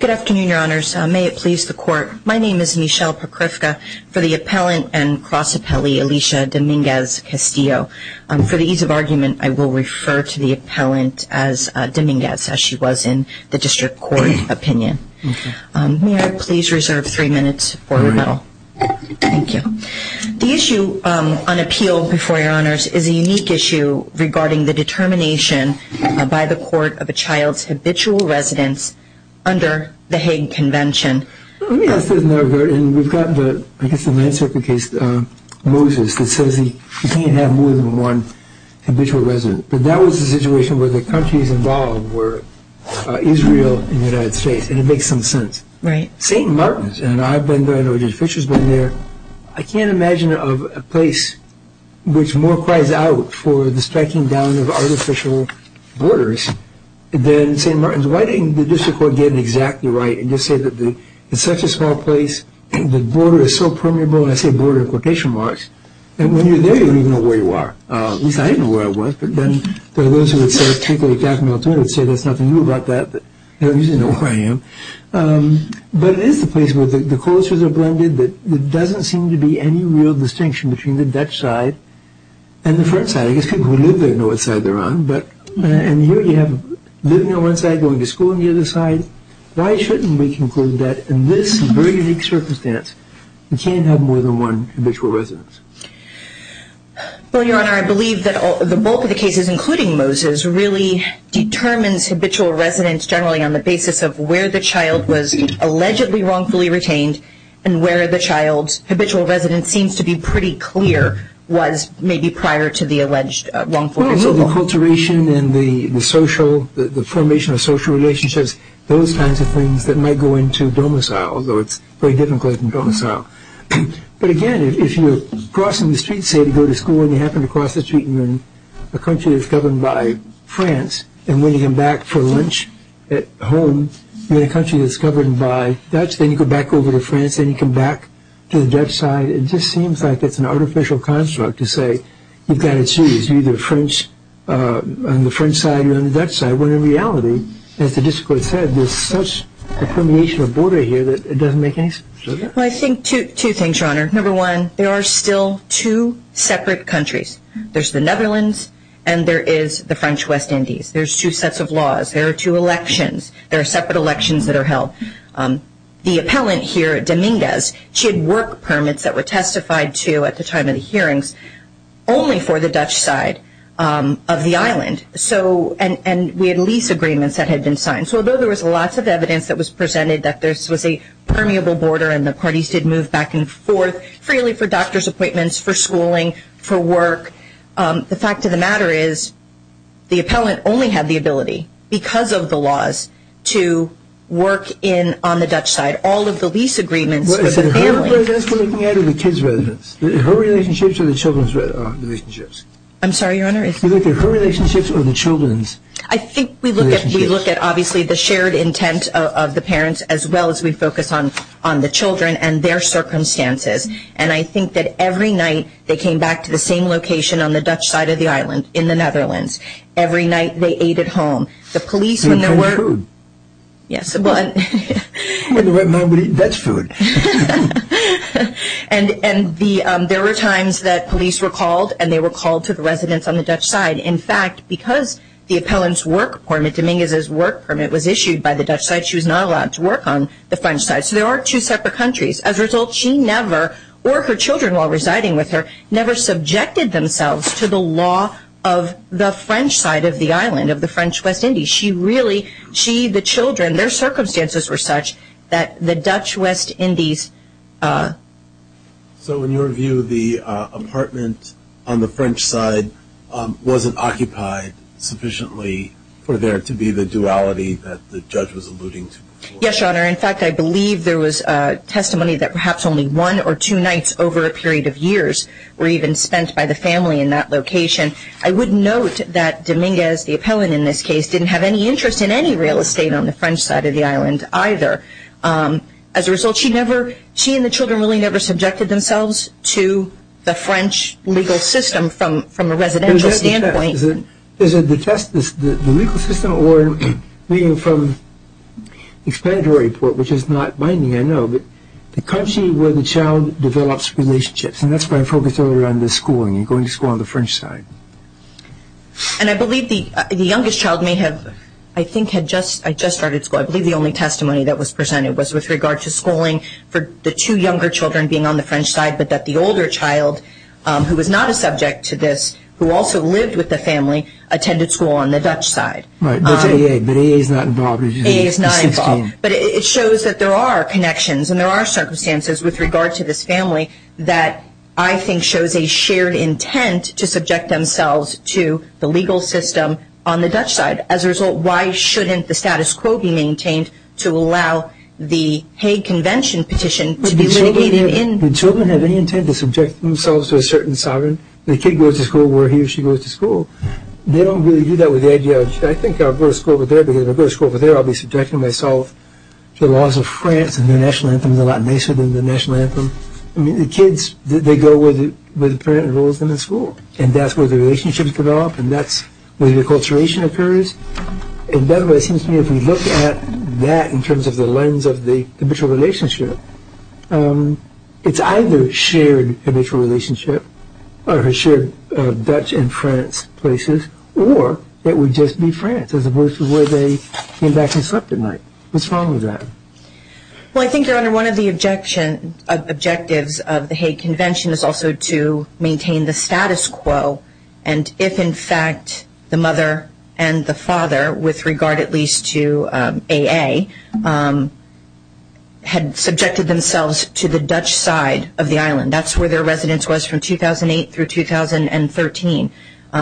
Good afternoon, your honors. May it please the court. My name is Michele Prokofka for the appellant and cross appellee Alicia Dominguez-Castillo. For the ease of argument, I will refer to the appellant as Dominguez as she was in the district court opinion. May I please reserve three minutes for rebuttal? Thank you. The issue on appeal before your honors is a unique issue regarding the determination by the court of a child's habitual residence under the Hague Convention. Let me ask this in that regard and we've got the, I guess the land circuit case, Moses that says he can't have more than one habitual resident. But that was a situation where the countries involved were Israel and the United States and it makes some sense. Right. St. Martins and I've been there, I know Judge Fischer's been there. I can't imagine a place which more cries out for the striking down of artificial borders than St. Martins. Why didn't the district court get it exactly right and just say that it's such a small place, the border is so permeable, I say border in quotation marks, and when you're there you don't even know where you are. At least I didn't know where I was, but then there are those who would say, particularly Jack Milton, who would say there's nothing new about that, but they don't usually know where I am. But it is the place where the cultures are blended, there doesn't seem to be any real distinction between the Dutch side and the French side. I guess people who live there know what side they're on. And here you have living on one side, going to school on the other side. Why shouldn't we conclude that in this very unique circumstance, we can't have more than one habitual residence? Well, Your Honor, I believe that the bulk of the cases, including Moses, really determines habitual residence generally on the basis of where the child was allegedly wrongfully retained and where the child's habitual residence seems to be pretty clear was maybe prior to the alleged wrongful resident. Well, so the acculturation and the social, the formation of social relationships, those kinds of things that might go into domicile, although it's very difficult in domicile. But again, if you're crossing the street, say, to go to school, and you happen to cross the street and you're in a country that's governed by France, and when you come back for lunch at home, you're in a country that's governed by Dutch, then you go back over to France, then you come back to the Dutch side, it just seems like it's an artificial construct to say you've got to choose either French on the French side or on the Dutch side, when in reality, as the district court said, there's such a permeation of border here that it doesn't make any sense. Well, I think two things, Your Honor. Number one, there are still two separate countries. There's the Netherlands and there is the French West Indies. There's two sets of laws. There are two elections. There are separate elections that are held. The appellant here, Dominguez, she had work permits that were testified to at the time of the hearings only for the Dutch side of the island, and we had lease agreements that had been signed. So although there was lots of evidence that was presented that this was a permeable border and the parties did move back and forth freely for doctor's appointments, for schooling, for work, the fact of the matter is, the appellant only had the ability, because of the laws, to work on the Dutch side. All of the lease agreements for the family... I think we're looking at the kids' residence. Her relationships or the children's relationships? I'm sorry, Your Honor? You're looking at her relationships or the children's relationships? I think we look at, obviously, the shared intent of the parents as well as we focus on the children and their circumstances. And I think that every night they came back to the same location on the Dutch side of the island in the Netherlands. Every night they ate at home. The police when they were... They ate food? Yes, but... When the red man would eat Dutch food. And there were times that police were called and they were called to the residence on the Dutch side. In fact, because the appellant's work permit, Dominguez's work permit, was issued by the Dutch side, she was not allowed to work on the French side. So there are two separate countries. As a result, she never, or her children while residing with her, never subjected themselves to the law of the French side of the island, of the French West Indies. She really... She, the children, their circumstances were such that the Dutch West Indies... So in your view, the apartment on the French side wasn't occupied sufficiently for there to be the duality that the judge was alluding to? Yes, Your Honor. In fact, I believe there was testimony that perhaps only one or two nights over a period of years were even spent by the family in that location. I would note that Dominguez, the appellant in this case, didn't have any interest in any real estate on the French side of the island either. As a result, she never... She and the children really never subjected themselves to the French legal system from a residential standpoint. Is it the test, the legal system, or, I mean, from the explanatory report, which is not binding, I know, but the country where the child develops relationships, and that's where I focused earlier on the schooling, going to school on the French side. And I believe the youngest child may have, I think, had just started school. I believe the only testimony that was presented was with regard to schooling for the two younger children being on the French side, but that the older child, who was not a subject to this, who also lived with the family, attended school on the Dutch side. Right. That's AA, but AA is not involved. AA is not involved. But it shows that there are connections and there are circumstances with regard to this family that I think shows a shared intent to subject themselves to the legal system on the Dutch side. As a result, why shouldn't the status quo be maintained to allow the Hague Convention petition to be litigated in... Would the children have any intent to subject themselves to a certain sovereign? The kid goes to school where he or she goes to school. They don't really do that with their judge. I think I'll go to school over there because if I go to school over there, I'll be subjecting myself to the laws of France and their national anthem is a lot nicer than the national anthem. I mean, the kids, they go where the parent enrolls them in school, and that's where the relationships develop, and that's where the acculturation occurs, and that's what it seems to me, if we look at that in terms of the lens of the habitual relationship, it's either shared habitual relationship, or shared Dutch and France places, or it would just be France as opposed to where they came back and slept at night. What's wrong with that? Well, I think, Your Honor, one of the objectives of the Hague Convention is also to maintain the status quo, and if, in fact, the mother and the father, with regard at least to AA, had subjected themselves to the Dutch side of the island, that's where their residence was from 2008 through 2013,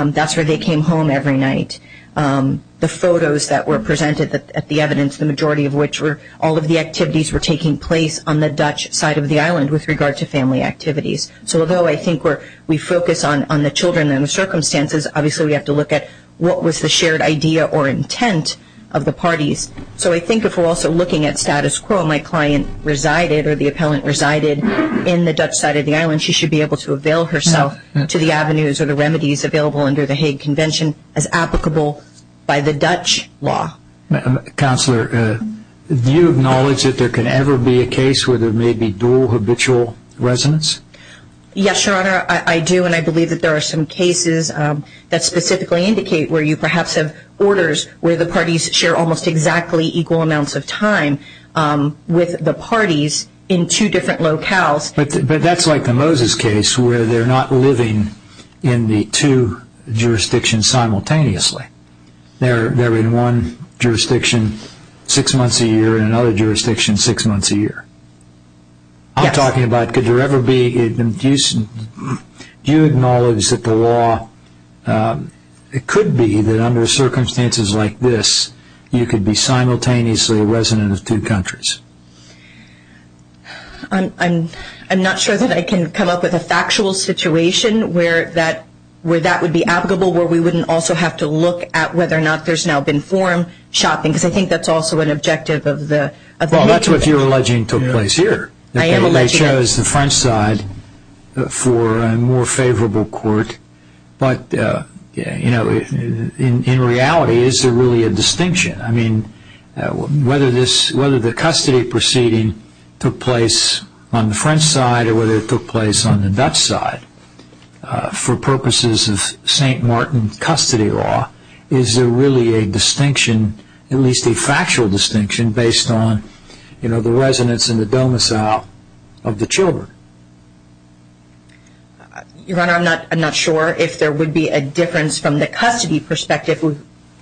that's where they came home every night. The photos that were presented at the evidence, the majority of which were all of the activities were taking place on the Dutch side of the island with regard to family activities. So although I think we focus on the children and the circumstances, obviously we have to look at what was the shared idea or intent of the parties. So I think if we're also looking at status quo, my client resided, or the appellant resided in the Dutch side of the island, she should be able to avail herself to the avenues or the Hague Convention as applicable by the Dutch law. Counselor, do you acknowledge that there can ever be a case where there may be dual habitual residence? Yes, Your Honor, I do, and I believe that there are some cases that specifically indicate where you perhaps have orders where the parties share almost exactly equal amounts of time with the parties in two different locales. But that's like the Moses case where they're not living in the two jurisdictions simultaneously. They're in one jurisdiction six months a year and another jurisdiction six months a year. Yes. I'm talking about could there ever be, do you acknowledge that the law, it could be that under circumstances like this, you could be simultaneously a resident of two countries? I'm not sure that I can come up with a factual situation where that would be applicable, where we wouldn't also have to look at whether or not there's now been forum shopping, because I think that's also an objective of the nature of the case. Well, that's what you're alleging took place here. I am alleging that. They chose the French side for a more favorable court, but in reality, is there really a distinction? I mean, whether the custody proceeding took place on the French side or whether it took place on the Dutch side, for purposes of St. Martin custody law, is there really a distinction, at least a factual distinction, based on the residence and the domicile of the children? Your Honor, I'm not sure if there would be a difference from the custody perspective.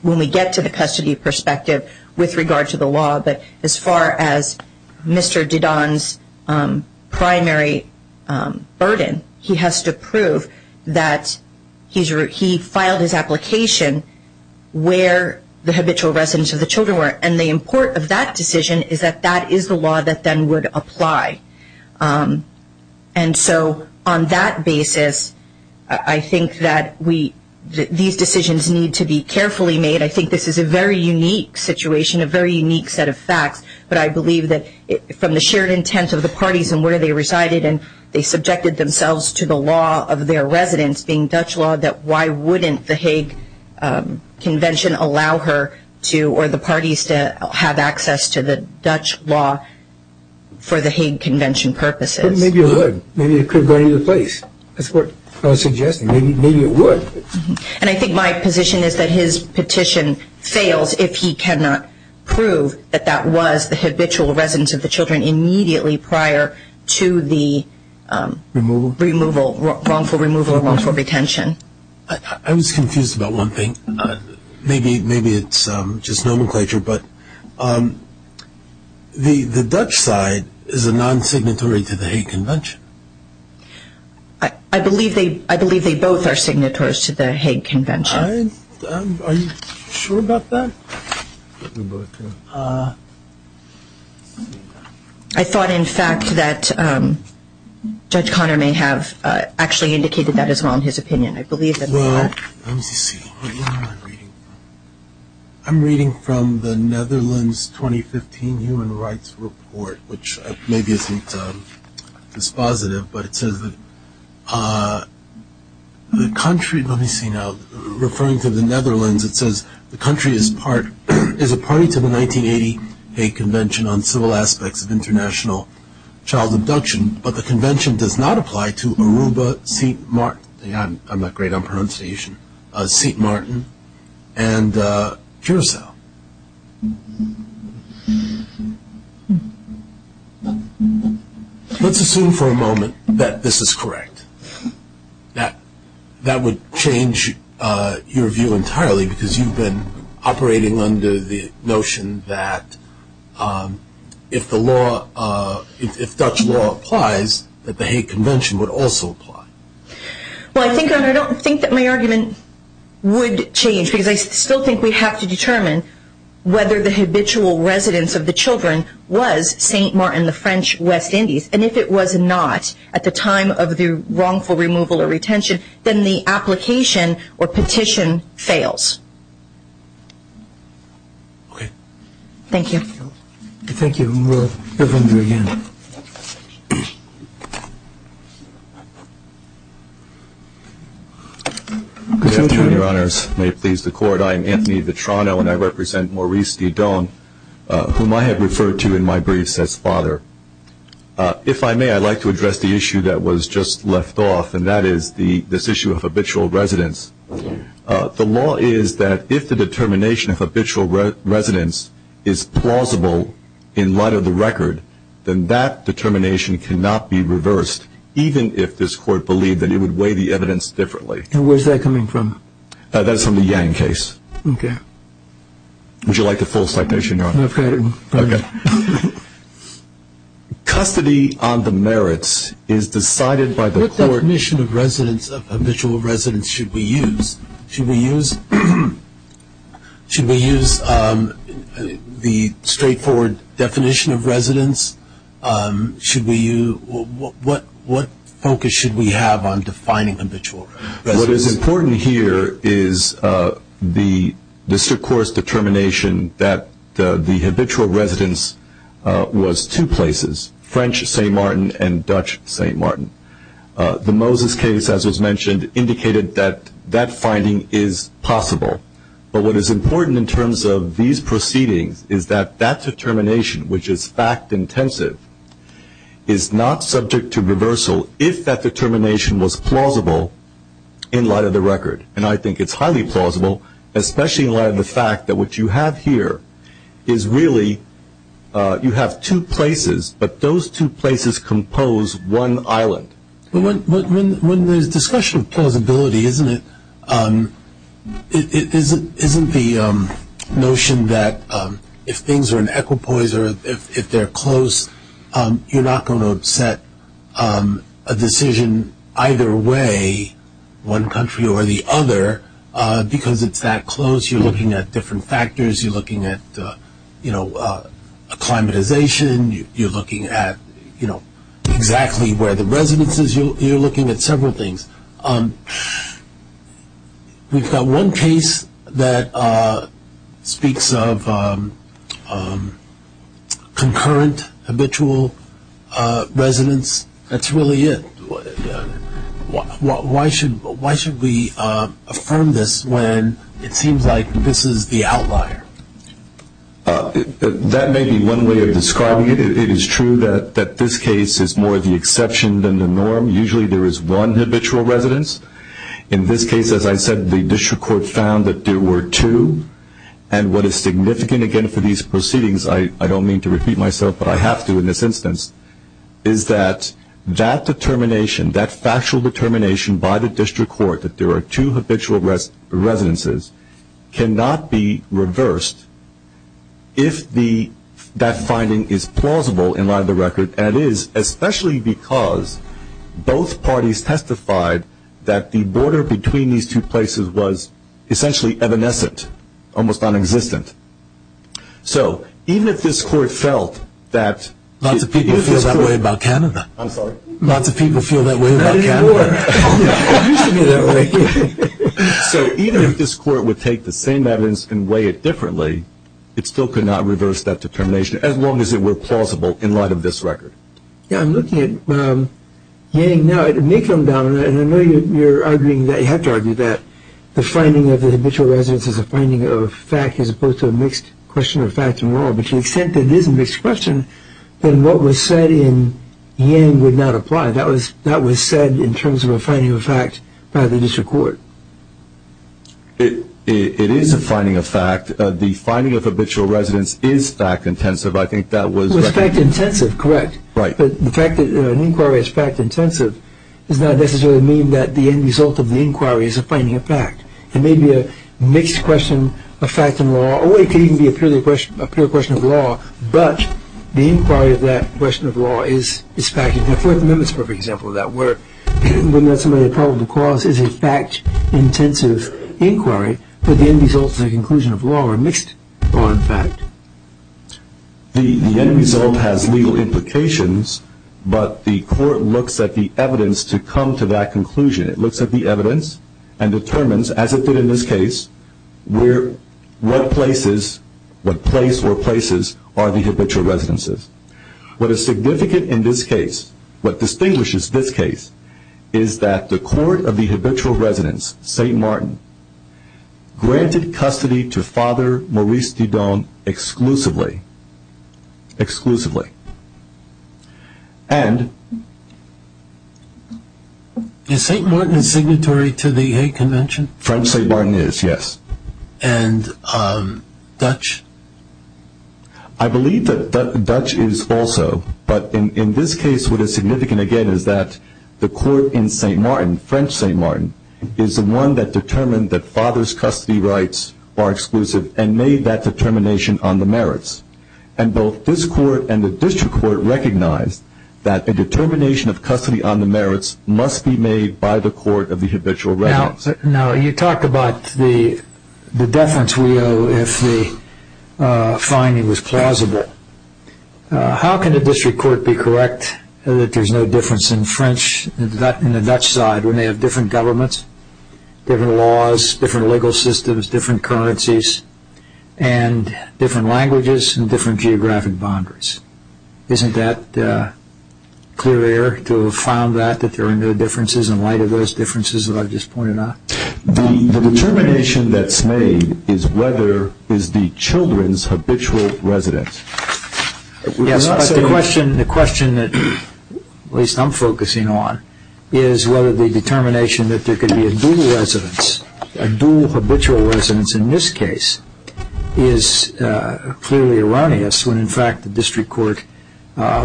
When we get to the custody perspective, with regard to the law, but as far as Mr. Dedan's primary burden, he has to prove that he filed his application where the habitual residence of the children were, and the import of that decision is that that is the law that then would apply. And so, on that basis, I think that these decisions need to be carefully made. I think this is a very unique situation, a very unique set of facts, but I believe that from the shared intent of the parties and where they resided, and they subjected themselves to the law of their residence being Dutch law, that why wouldn't the Hague Convention allow her to, or the parties to, have access to the Dutch law for the Hague Convention? But maybe it would. Maybe it could have gone into place. That's what I was suggesting. Maybe it would. And I think my position is that his petition fails if he cannot prove that that was the habitual residence of the children immediately prior to the removal, wrongful removal or wrongful retention. I was confused about one thing. Maybe it's just nomenclature, but the Dutch side is a non-signatory to the Hague Convention. I believe they both are signatories to the Hague Convention. Are you sure about that? I thought, in fact, that Judge Conner may have actually indicated that as well in his opinion. I believe that they are. Well, let me see. What am I reading from? I'm reading from the Netherlands 2015 Human Rights Committee. Maybe it isn't as positive, but it says that the country, let me see now. Referring to the Netherlands, it says the country is a party to the 1980 Hague Convention on Civil Aspects of International Child Abduction, but the convention does not apply to Aruba, Siet Maarten, I'm not great on pronunciation, Siet Maarten and Curaçao. Let's assume for a moment that this is correct. That would change your view entirely because you've been operating under the notion that if the law, if Dutch law applies, that the Hague Convention would also apply. Well, I don't think that my argument would change because I still think we have to determine whether the habitual residence of the children was Siet Maarten, the French West Indies, and if it was not at the time of the wrongful removal or retention, then the application or petition fails. Okay. Thank you. Thank you. And we'll hear from you again. Good afternoon, Your Honours. May it please the Court. I am Anthony Vitrano, and I represent Maurice Didon, whom I have referred to in my briefs as father. If I may, I'd like to address the issue that was just left off, and that is this issue of habitual residence. The law is that if the determination of habitual residence is plausible in light of the record, then that determination cannot be reversed, even if this Court believed that it would weigh the evidence differently. And where's that coming from? That's from the Yang case. Would you like the full citation, Your Honour? I've got it. Okay. Custody on the merits is decided by the Court. What definition of residence, of habitual residence, should we use? Should we use the straightforward definition of residence? What focus should we have on defining habitual residence? What is important here is the district court's determination that the habitual residence was two places, French St. Martin and Dutch St. Martin. The Moses case, as was mentioned, indicated that that finding is possible. But what is important in terms of these proceedings is that that determination, which is fact-intensive, is not subject to reversal if that determination was plausible in light of the record. And I think it's highly plausible, especially in light of the fact that what you have here is really, you have two places, but those two places compose one island. But when there's discussion of plausibility, isn't it, isn't the notion that if things are in equipoise or if they're close, you're not going to upset a decision either way, one country or the other, because it's that close. You're looking at different factors. You're looking at, you know, acclimatization. You're looking at, you know, exactly where the residence is. You're looking at several things. We've got one case that speaks of concurrent habitual residence. That's really it. Why should we affirm this when it seems like this is the outlier? That may be one way of describing it. It is true that this case is more of the exception than the norm. Usually there is one habitual residence. In this case, as I said, the district court found that there were two. And what is significant, again, for these proceedings, I don't mean to repeat myself, but I have to in this instance, is that that determination, that factual determination by the district court that there are two habitual residences, cannot be reversed if that finding is plausible in light of the record, and it is especially because both parties testified that the border between these two places was essentially evanescent, almost nonexistent. So even if this court felt that... Lots of people feel that way about Canada. I'm sorry? Lots of people feel that way about Canada. It used to be that way. So even if this court would take the same evidence and weigh it differently, it still could not reverse that determination as long as it were plausible in light of this record. Yeah, I'm looking at Yang. Now, it may come down, and I know you're arguing that you have to argue that the finding of the habitual residence is a finding of fact as opposed to a mixed question of fact and law, but to the extent that it is a mixed question, then what was said in Yang would not apply. That was said in terms of a finding of fact by the district court. It is a finding of fact. The finding of habitual residence is fact intensive. I think that was... It was fact intensive, correct. Right. But the fact that an inquiry is fact intensive does not necessarily mean that the end result of the inquiry is a finding of fact. It may be a mixed question of fact and law, or it could even be a pure question of law, but the inquiry of that question of law is fact intensive. The Fourth Amendment is a perfect example of that. It would not necessarily be a probable cause. It is a fact intensive inquiry, but the end result is a conclusion of law or a mixed law and fact. The end result has legal implications, but the court looks at the evidence to come to that conclusion. It looks at the evidence and determines, as it did in this case, what place or places are the habitual residences. What is significant in this case, what distinguishes this case, is that the court of the habitual residence, St. Martin, granted custody to Father Maurice Dudon exclusively. Exclusively. Is St. Martin signatory to the convention? French St. Martin is, yes. And Dutch? I believe that Dutch is also, but in this case, what is significant again is that the court in St. Martin, French St. Martin, is the one that determined that Father's custody rights are exclusive and made that determination on the merits. And both this court and the district court recognized that a determination of custody on the merits must be made by the court of the habitual residence. Now, you talked about the deference we owe if the finding was plausible. How can a district court be correct that there is no difference in French and the Dutch side when they have different governments, different laws, different legal systems, different currencies, and different languages, and different geographic boundaries? Isn't that clear air to have found that, that there are no differences in light of those differences that I just pointed out? The determination that's made is whether is the children's habitual residence. Yes, but the question that at least I'm focusing on is whether the determination that there could be a dual residence, a dual habitual residence in this case, is clearly erroneous when in fact the district court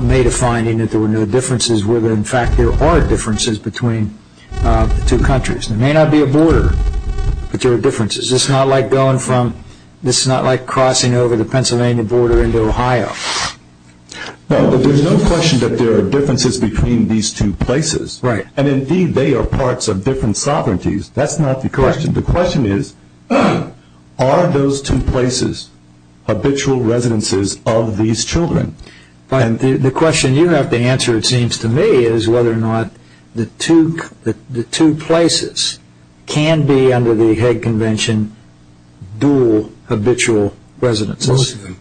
made a finding that there were no differences where in fact there are differences between the two countries. There may not be a border, but there are differences. This is not like crossing over the Pennsylvania border into Ohio. There's no question that there are differences between these two places. Indeed, they are parts of different sovereignties. That's not the question. The question is, are those two places habitual residences of these children? The question you have to answer, it seems to me, is whether or not the two places can be under the Hague Convention dual habitual residences. Most of them.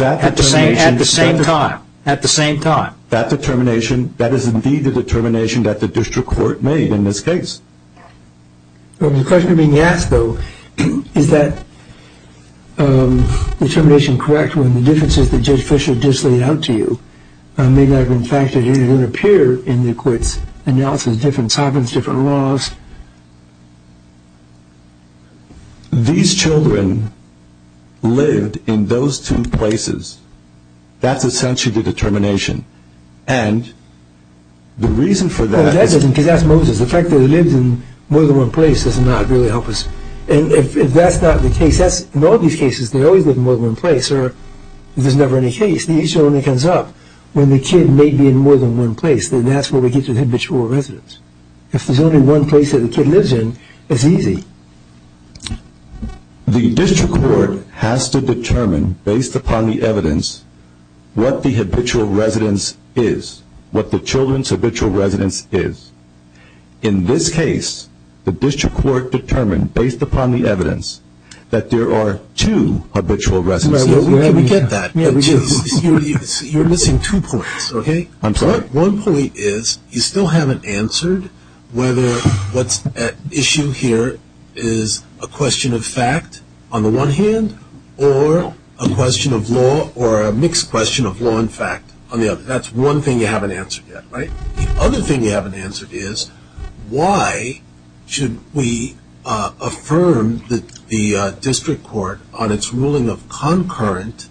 At the same time. That determination, that is indeed the determination that the district court made in this case. The question being asked though, is that determination correct when the differences that Judge Fischer just laid out to you may not have been factored in or didn't appear in the court's analysis of different sovereigns, different laws? These children lived in those two places. That's essentially the determination. And the reason for that is... Because that's Moses. The fact that he lived in more than one place does not really help us. And if that's not the case, in all these cases they always live in more than one place or if there's never any case, the issue only comes up when the kid may be in more than one place. Then that's where we get to the habitual residence. If there's only one place that the kid lives in, it's easy. The district court has to determine, based upon the evidence, what the habitual residence is. What the children's habitual residence is. In this case, the district court determined, based upon the evidence, that there are two habitual residences. Can we get that? You're missing two points, okay? I'm sorry? One point is, you still haven't answered whether what's at issue here is a question of fact, on the one hand, or a question of law, or a mixed question of law and fact, on the other. That's one thing you haven't answered yet, right? The other thing you haven't answered is, why should we affirm the district court on its ruling of concurrent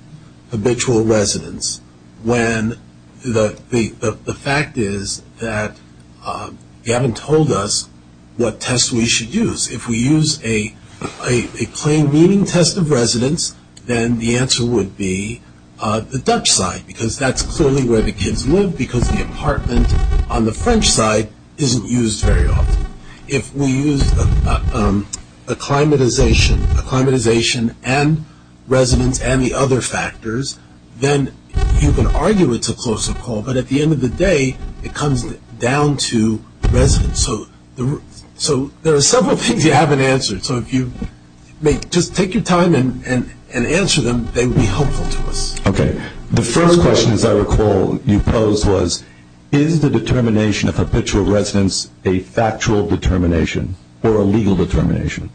habitual residence, when the fact is that you haven't told us what test we should use. If we use a plain meaning test of residence, then the answer would be the Dutch side, because that's clearly where the kids live, because the apartment on the French side isn't used very often. If we use acclimatization, acclimatization and residence and the other factors, then you can argue it's a closer call, but at the end of the day, it comes down to residence. So there are several things you haven't answered. So if you may just take your time and answer them, they would be helpful to us. Okay. The first question, as I recall, you posed was, is the determination of habitual residence a factual determination or a legal determination?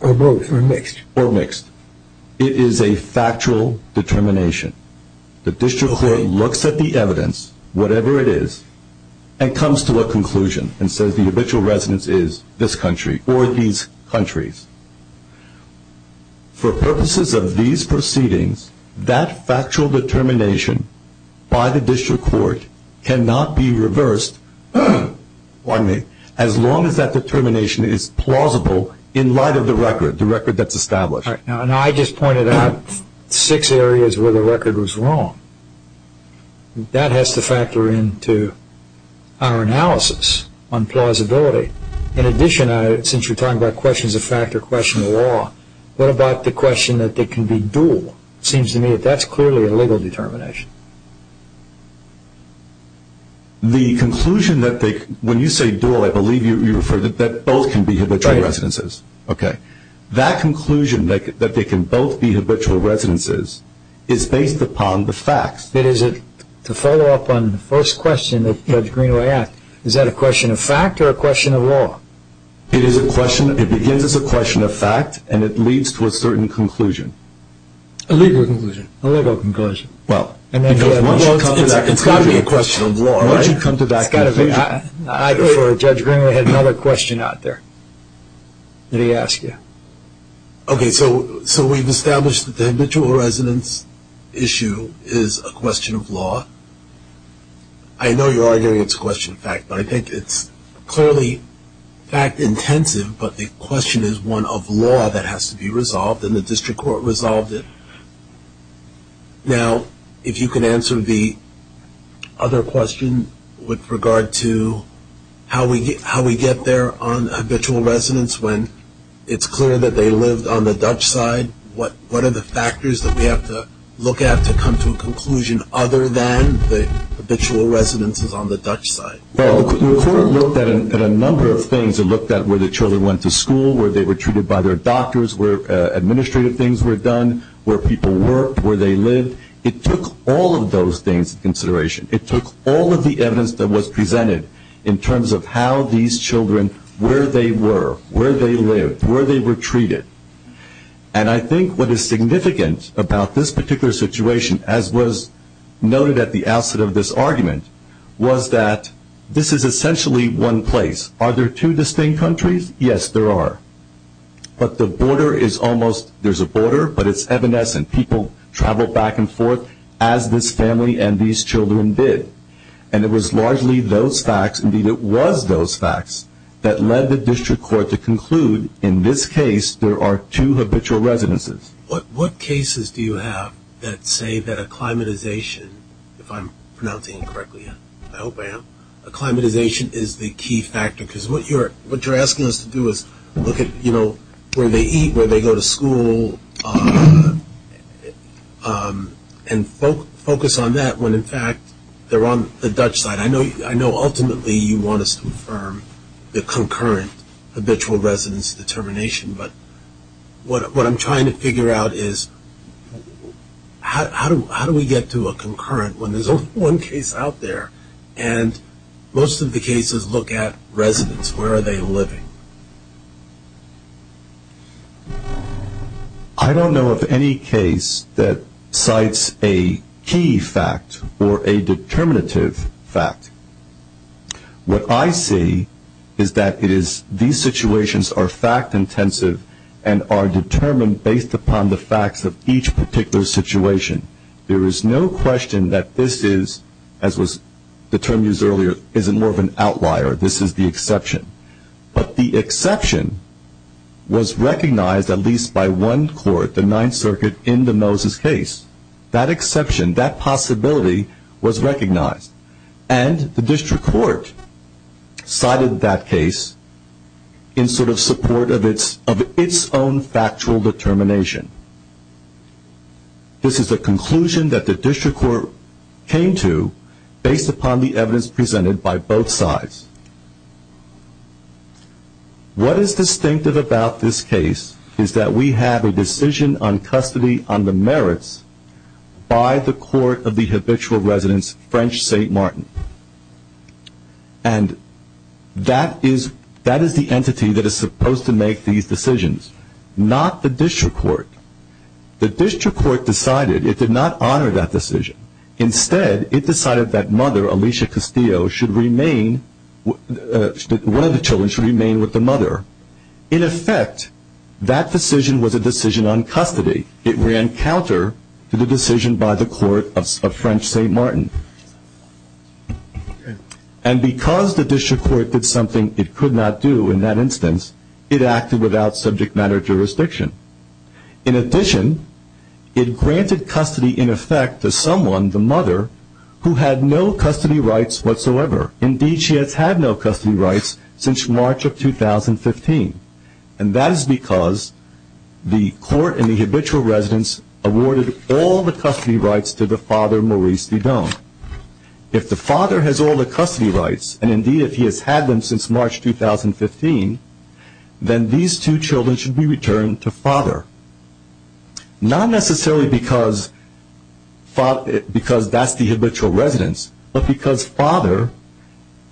Or both, or mixed. Or mixed. It is a factual determination. The district court looks at the evidence, whatever it is, and comes to a conclusion and says the habitual residence is this country or these countries. For purposes of these proceedings, that factual determination by the district court cannot be reversed, as long as that determination is plausible in light of the record, the record that's established. I just pointed out six areas where the record was wrong. That has to factor into our analysis on plausibility. In addition, since you're talking about questions of fact or question of law, what about the question that they can be dual? It seems to me that that's clearly a legal determination. The conclusion that they, when you say dual, I believe you refer to that both can be habitual residences. Right. Okay. That conclusion that they can both be habitual residences is based upon the facts. It is. To follow up on the first question that Judge Greenway asked, is that a question of fact or a question of law? It is a question. It begins as a question of fact and it leads to a certain conclusion. A legal conclusion. A legal conclusion. Well. It's got to be a question of law, right? It's got to be. Judge Greenway had another question out there that he asked you. Okay, so we've established that the habitual residence issue is a question of law. I know you're arguing it's a question of fact, but I think it's clearly fact intensive, but the question is one of law that has to be resolved and the district court resolved it. Now, if you can answer the other question with regard to how we get there on habitual residence when it's clear that they lived on the Dutch side, what are the factors that we have to look at to come to a conclusion other than the habitual residences on the Dutch side? Well, the court looked at a number of things. It looked at where the children went to school, where they were treated by their doctors, where administrative things were done, where people worked, where they lived. It took all of those things into consideration. It took all of the evidence that was presented in terms of how these children, where they were, where they lived, where they were treated. And I think what is significant about this particular situation, as was noted at the outset of this argument, was that this is essentially one place. Are there two distinct countries? Yes, there are. But the border is almost, there's a border, but it's evanescent. People travel back and forth as this family and these children did. And it was largely those facts, indeed it was those facts, that led the district court to conclude in this case there are two habitual residences. What cases do you have that say that acclimatization, if I'm pronouncing it correctly, I hope I am, acclimatization is the key factor? Because what you're asking us to do is look at, you know, where they eat, where they go to school, and focus on that when, in fact, they're on the Dutch side. And I know ultimately you want us to confirm the concurrent habitual residence determination, but what I'm trying to figure out is how do we get to a concurrent when there's only one case out there and most of the cases look at residence, where are they living? I don't know of any case that cites a key fact or a determinative fact. What I see is that it is, these situations are fact intensive and are determined based upon the facts of each particular situation. There is no question that this is, as was the term used earlier, is more of an outlier, this is the exception. But the exception was recognized at least by one court, the Ninth Circuit, in the Moses case. That exception, that possibility was recognized. And the district court cited that case in sort of support of its own factual determination. This is a conclusion that the district court came to based upon the evidence presented by both sides. What is distinctive about this case is that we have a decision on custody on the merits by the court of the habitual residence, French St. Martin. And that is the entity that is supposed to make these decisions, not the district court. The district court decided, it did not honor that decision. Instead, it decided that mother, Alicia Castillo, should remain, one of the children should remain with the mother. In effect, that decision was a decision on custody. It ran counter to the decision by the court of French St. Martin. And because the district court did something it could not do in that instance, it acted without subject matter jurisdiction. In addition, it granted custody in effect to someone, the mother, who had no custody rights whatsoever. Indeed, she has had no custody rights since March of 2015. And that is because the court in the habitual residence awarded all the custody rights to the father, Maurice Didon. If the father has all the custody rights, and indeed if he has had them since March 2015, then these two children should be returned to father. Not necessarily because that is the habitual residence, but because father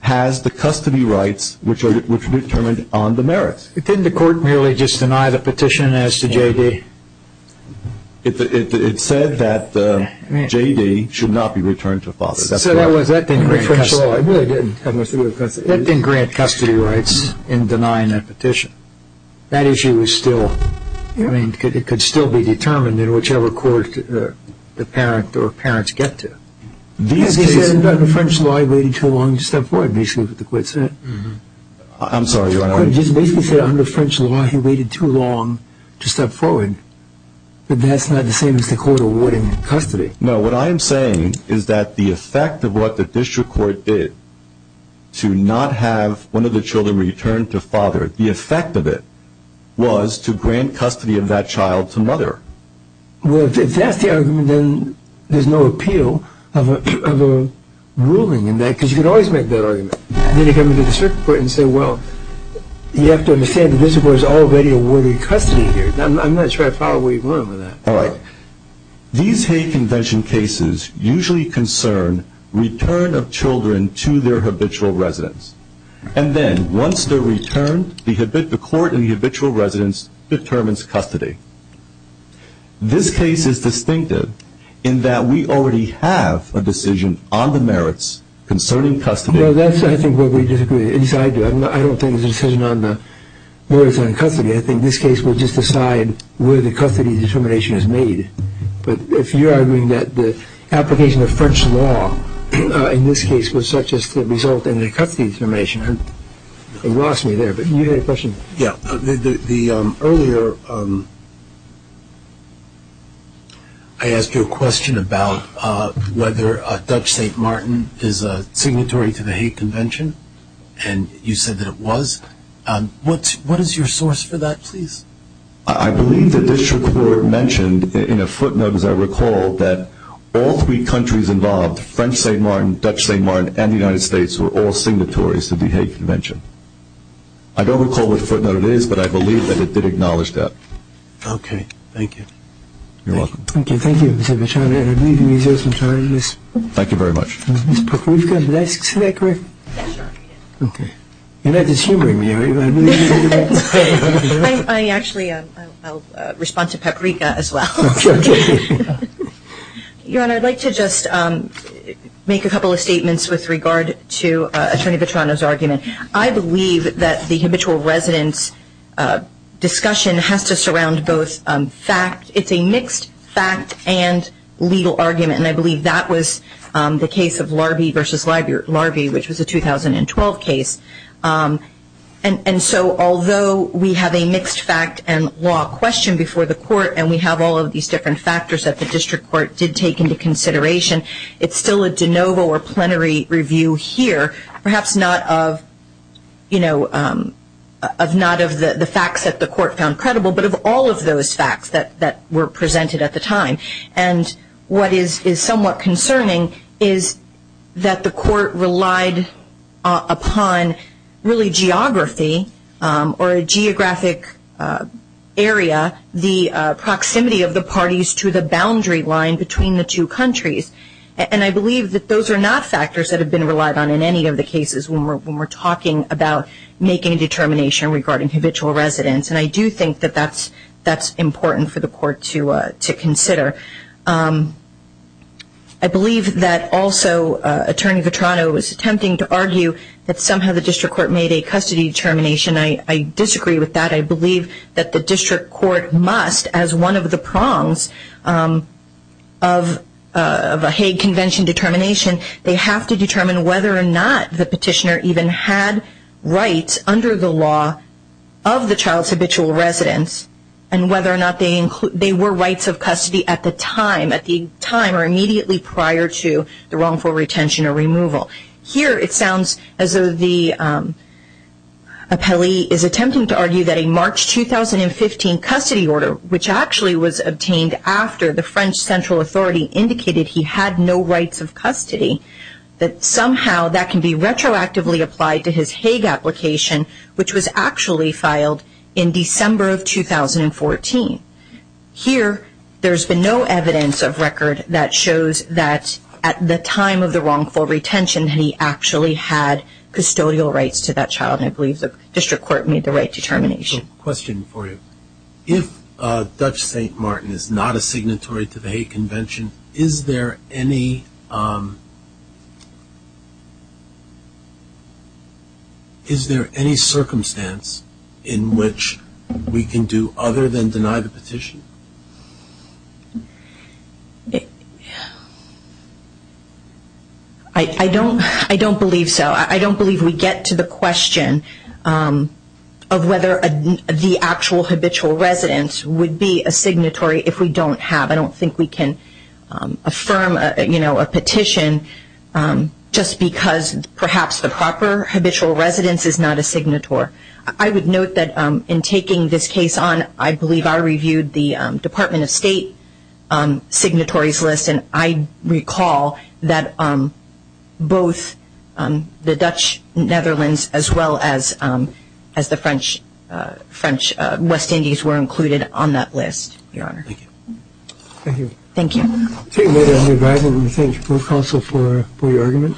has the custody rights which are determined on the merits. Didn't the court merely just deny the petition as to J.D.? It said that J.D. should not be returned to father. So that didn't grant custody rights in denying that petition. That issue could still be determined in whichever court the parent or parents get to. He said under French law he waited too long to step forward, basically what the court said. I'm sorry. The court basically said under French law he waited too long to step forward. But that's not the same as the court awarding custody. No, what I'm saying is that the effect of what the district court did to not have one of the children returned to father, the effect of it was to grant custody of that child to mother. Well, if that's the argument, then there's no appeal of a ruling in that, because you can always make that argument. Then you come to the district court and say, well, you have to understand the district court has already awarded custody here. I'm not sure I follow where you're going with that. All right. These hate convention cases usually concern return of children to their habitual residence. And then once they're returned, the court in the habitual residence determines custody. This case is distinctive in that we already have a decision on the merits concerning custody. Well, that's, I think, where we disagree. Yes, I do. I don't think it's a decision on the merits on custody. I think this case will just decide where the custody determination is made. But if you're arguing that the application of French law in this case was such as to result in a custody determination, it lost me there. But you had a question? Yes. Earlier I asked you a question about whether Dutch St. Martin is a signatory to the hate convention. And you said that it was. What is your source for that, please? I believe the district court mentioned in a footnote, as I recall, that all three countries involved, French St. Martin, Dutch St. Martin, and the United States, were all signatories to the hate convention. I don't recall what footnote it is, but I believe that it did acknowledge that. Okay. Thank you. You're welcome. Thank you. Thank you, Mr. Vachon. And I believe he's here some time. Thank you very much. Did I say that correctly? Yes, sir. Okay. You're not dishumoring me, are you? I actually, I'll respond to paprika as well. Okay. Your Honor, I'd like to just make a couple of statements with regard to Attorney Vetrano's argument. I believe that the habitual residence discussion has to surround both fact, it's a mixed fact and legal argument. And I believe that was the case of Larby v. Larby, which was a 2012 case. And so, although we have a mixed fact and law question before the court, and we have all of these different factors that the district court did take into consideration, it's still a de novo or plenary review here, perhaps not of, you know, not of the facts that the court found credible, but of all of those facts that were presented at the time. And what is somewhat concerning is that the court relied upon really geography or a geographic area, the proximity of the parties to the boundary line between the two countries. And I believe that those are not factors that have been relied on in any of the cases when we're talking about making a determination regarding habitual residence. And I do think that that's important for the court to consider. I believe that also Attorney Vetrano is attempting to argue that somehow the district court made a custody determination. I disagree with that. I believe that the district court must, as one of the prongs of a Hague Convention determination, they have to determine whether or not the petitioner even had rights under the law of the child's habitual residence and whether or not they were rights of custody at the time, at the time or immediately prior to the wrongful retention or removal. Here it sounds as though the appellee is attempting to argue that a March 2015 custody order, which actually was obtained after the French Central Authority indicated he had no rights of custody, that somehow that can be retroactively applied to his Hague application, which was actually filed in December of 2014. Here there's been no evidence of record that shows that at the time of the wrongful retention that he actually had custodial rights to that child. And I believe the district court made the right determination. I have a question for you. If Dutch St. Martin is not a signatory to the Hague Convention, is there any circumstance in which we can do other than deny the petition? I don't believe so. I don't believe we get to the question of whether the actual habitual residence would be a signatory if we don't have. I don't think we can affirm a petition just because perhaps the proper habitual residence is not a signator. I would note that in taking this case on, I believe I reviewed the Department of State signatories list and I recall that both the Dutch Netherlands as well as the French West Indies were included on that list, Your Honor. Thank you. Thank you.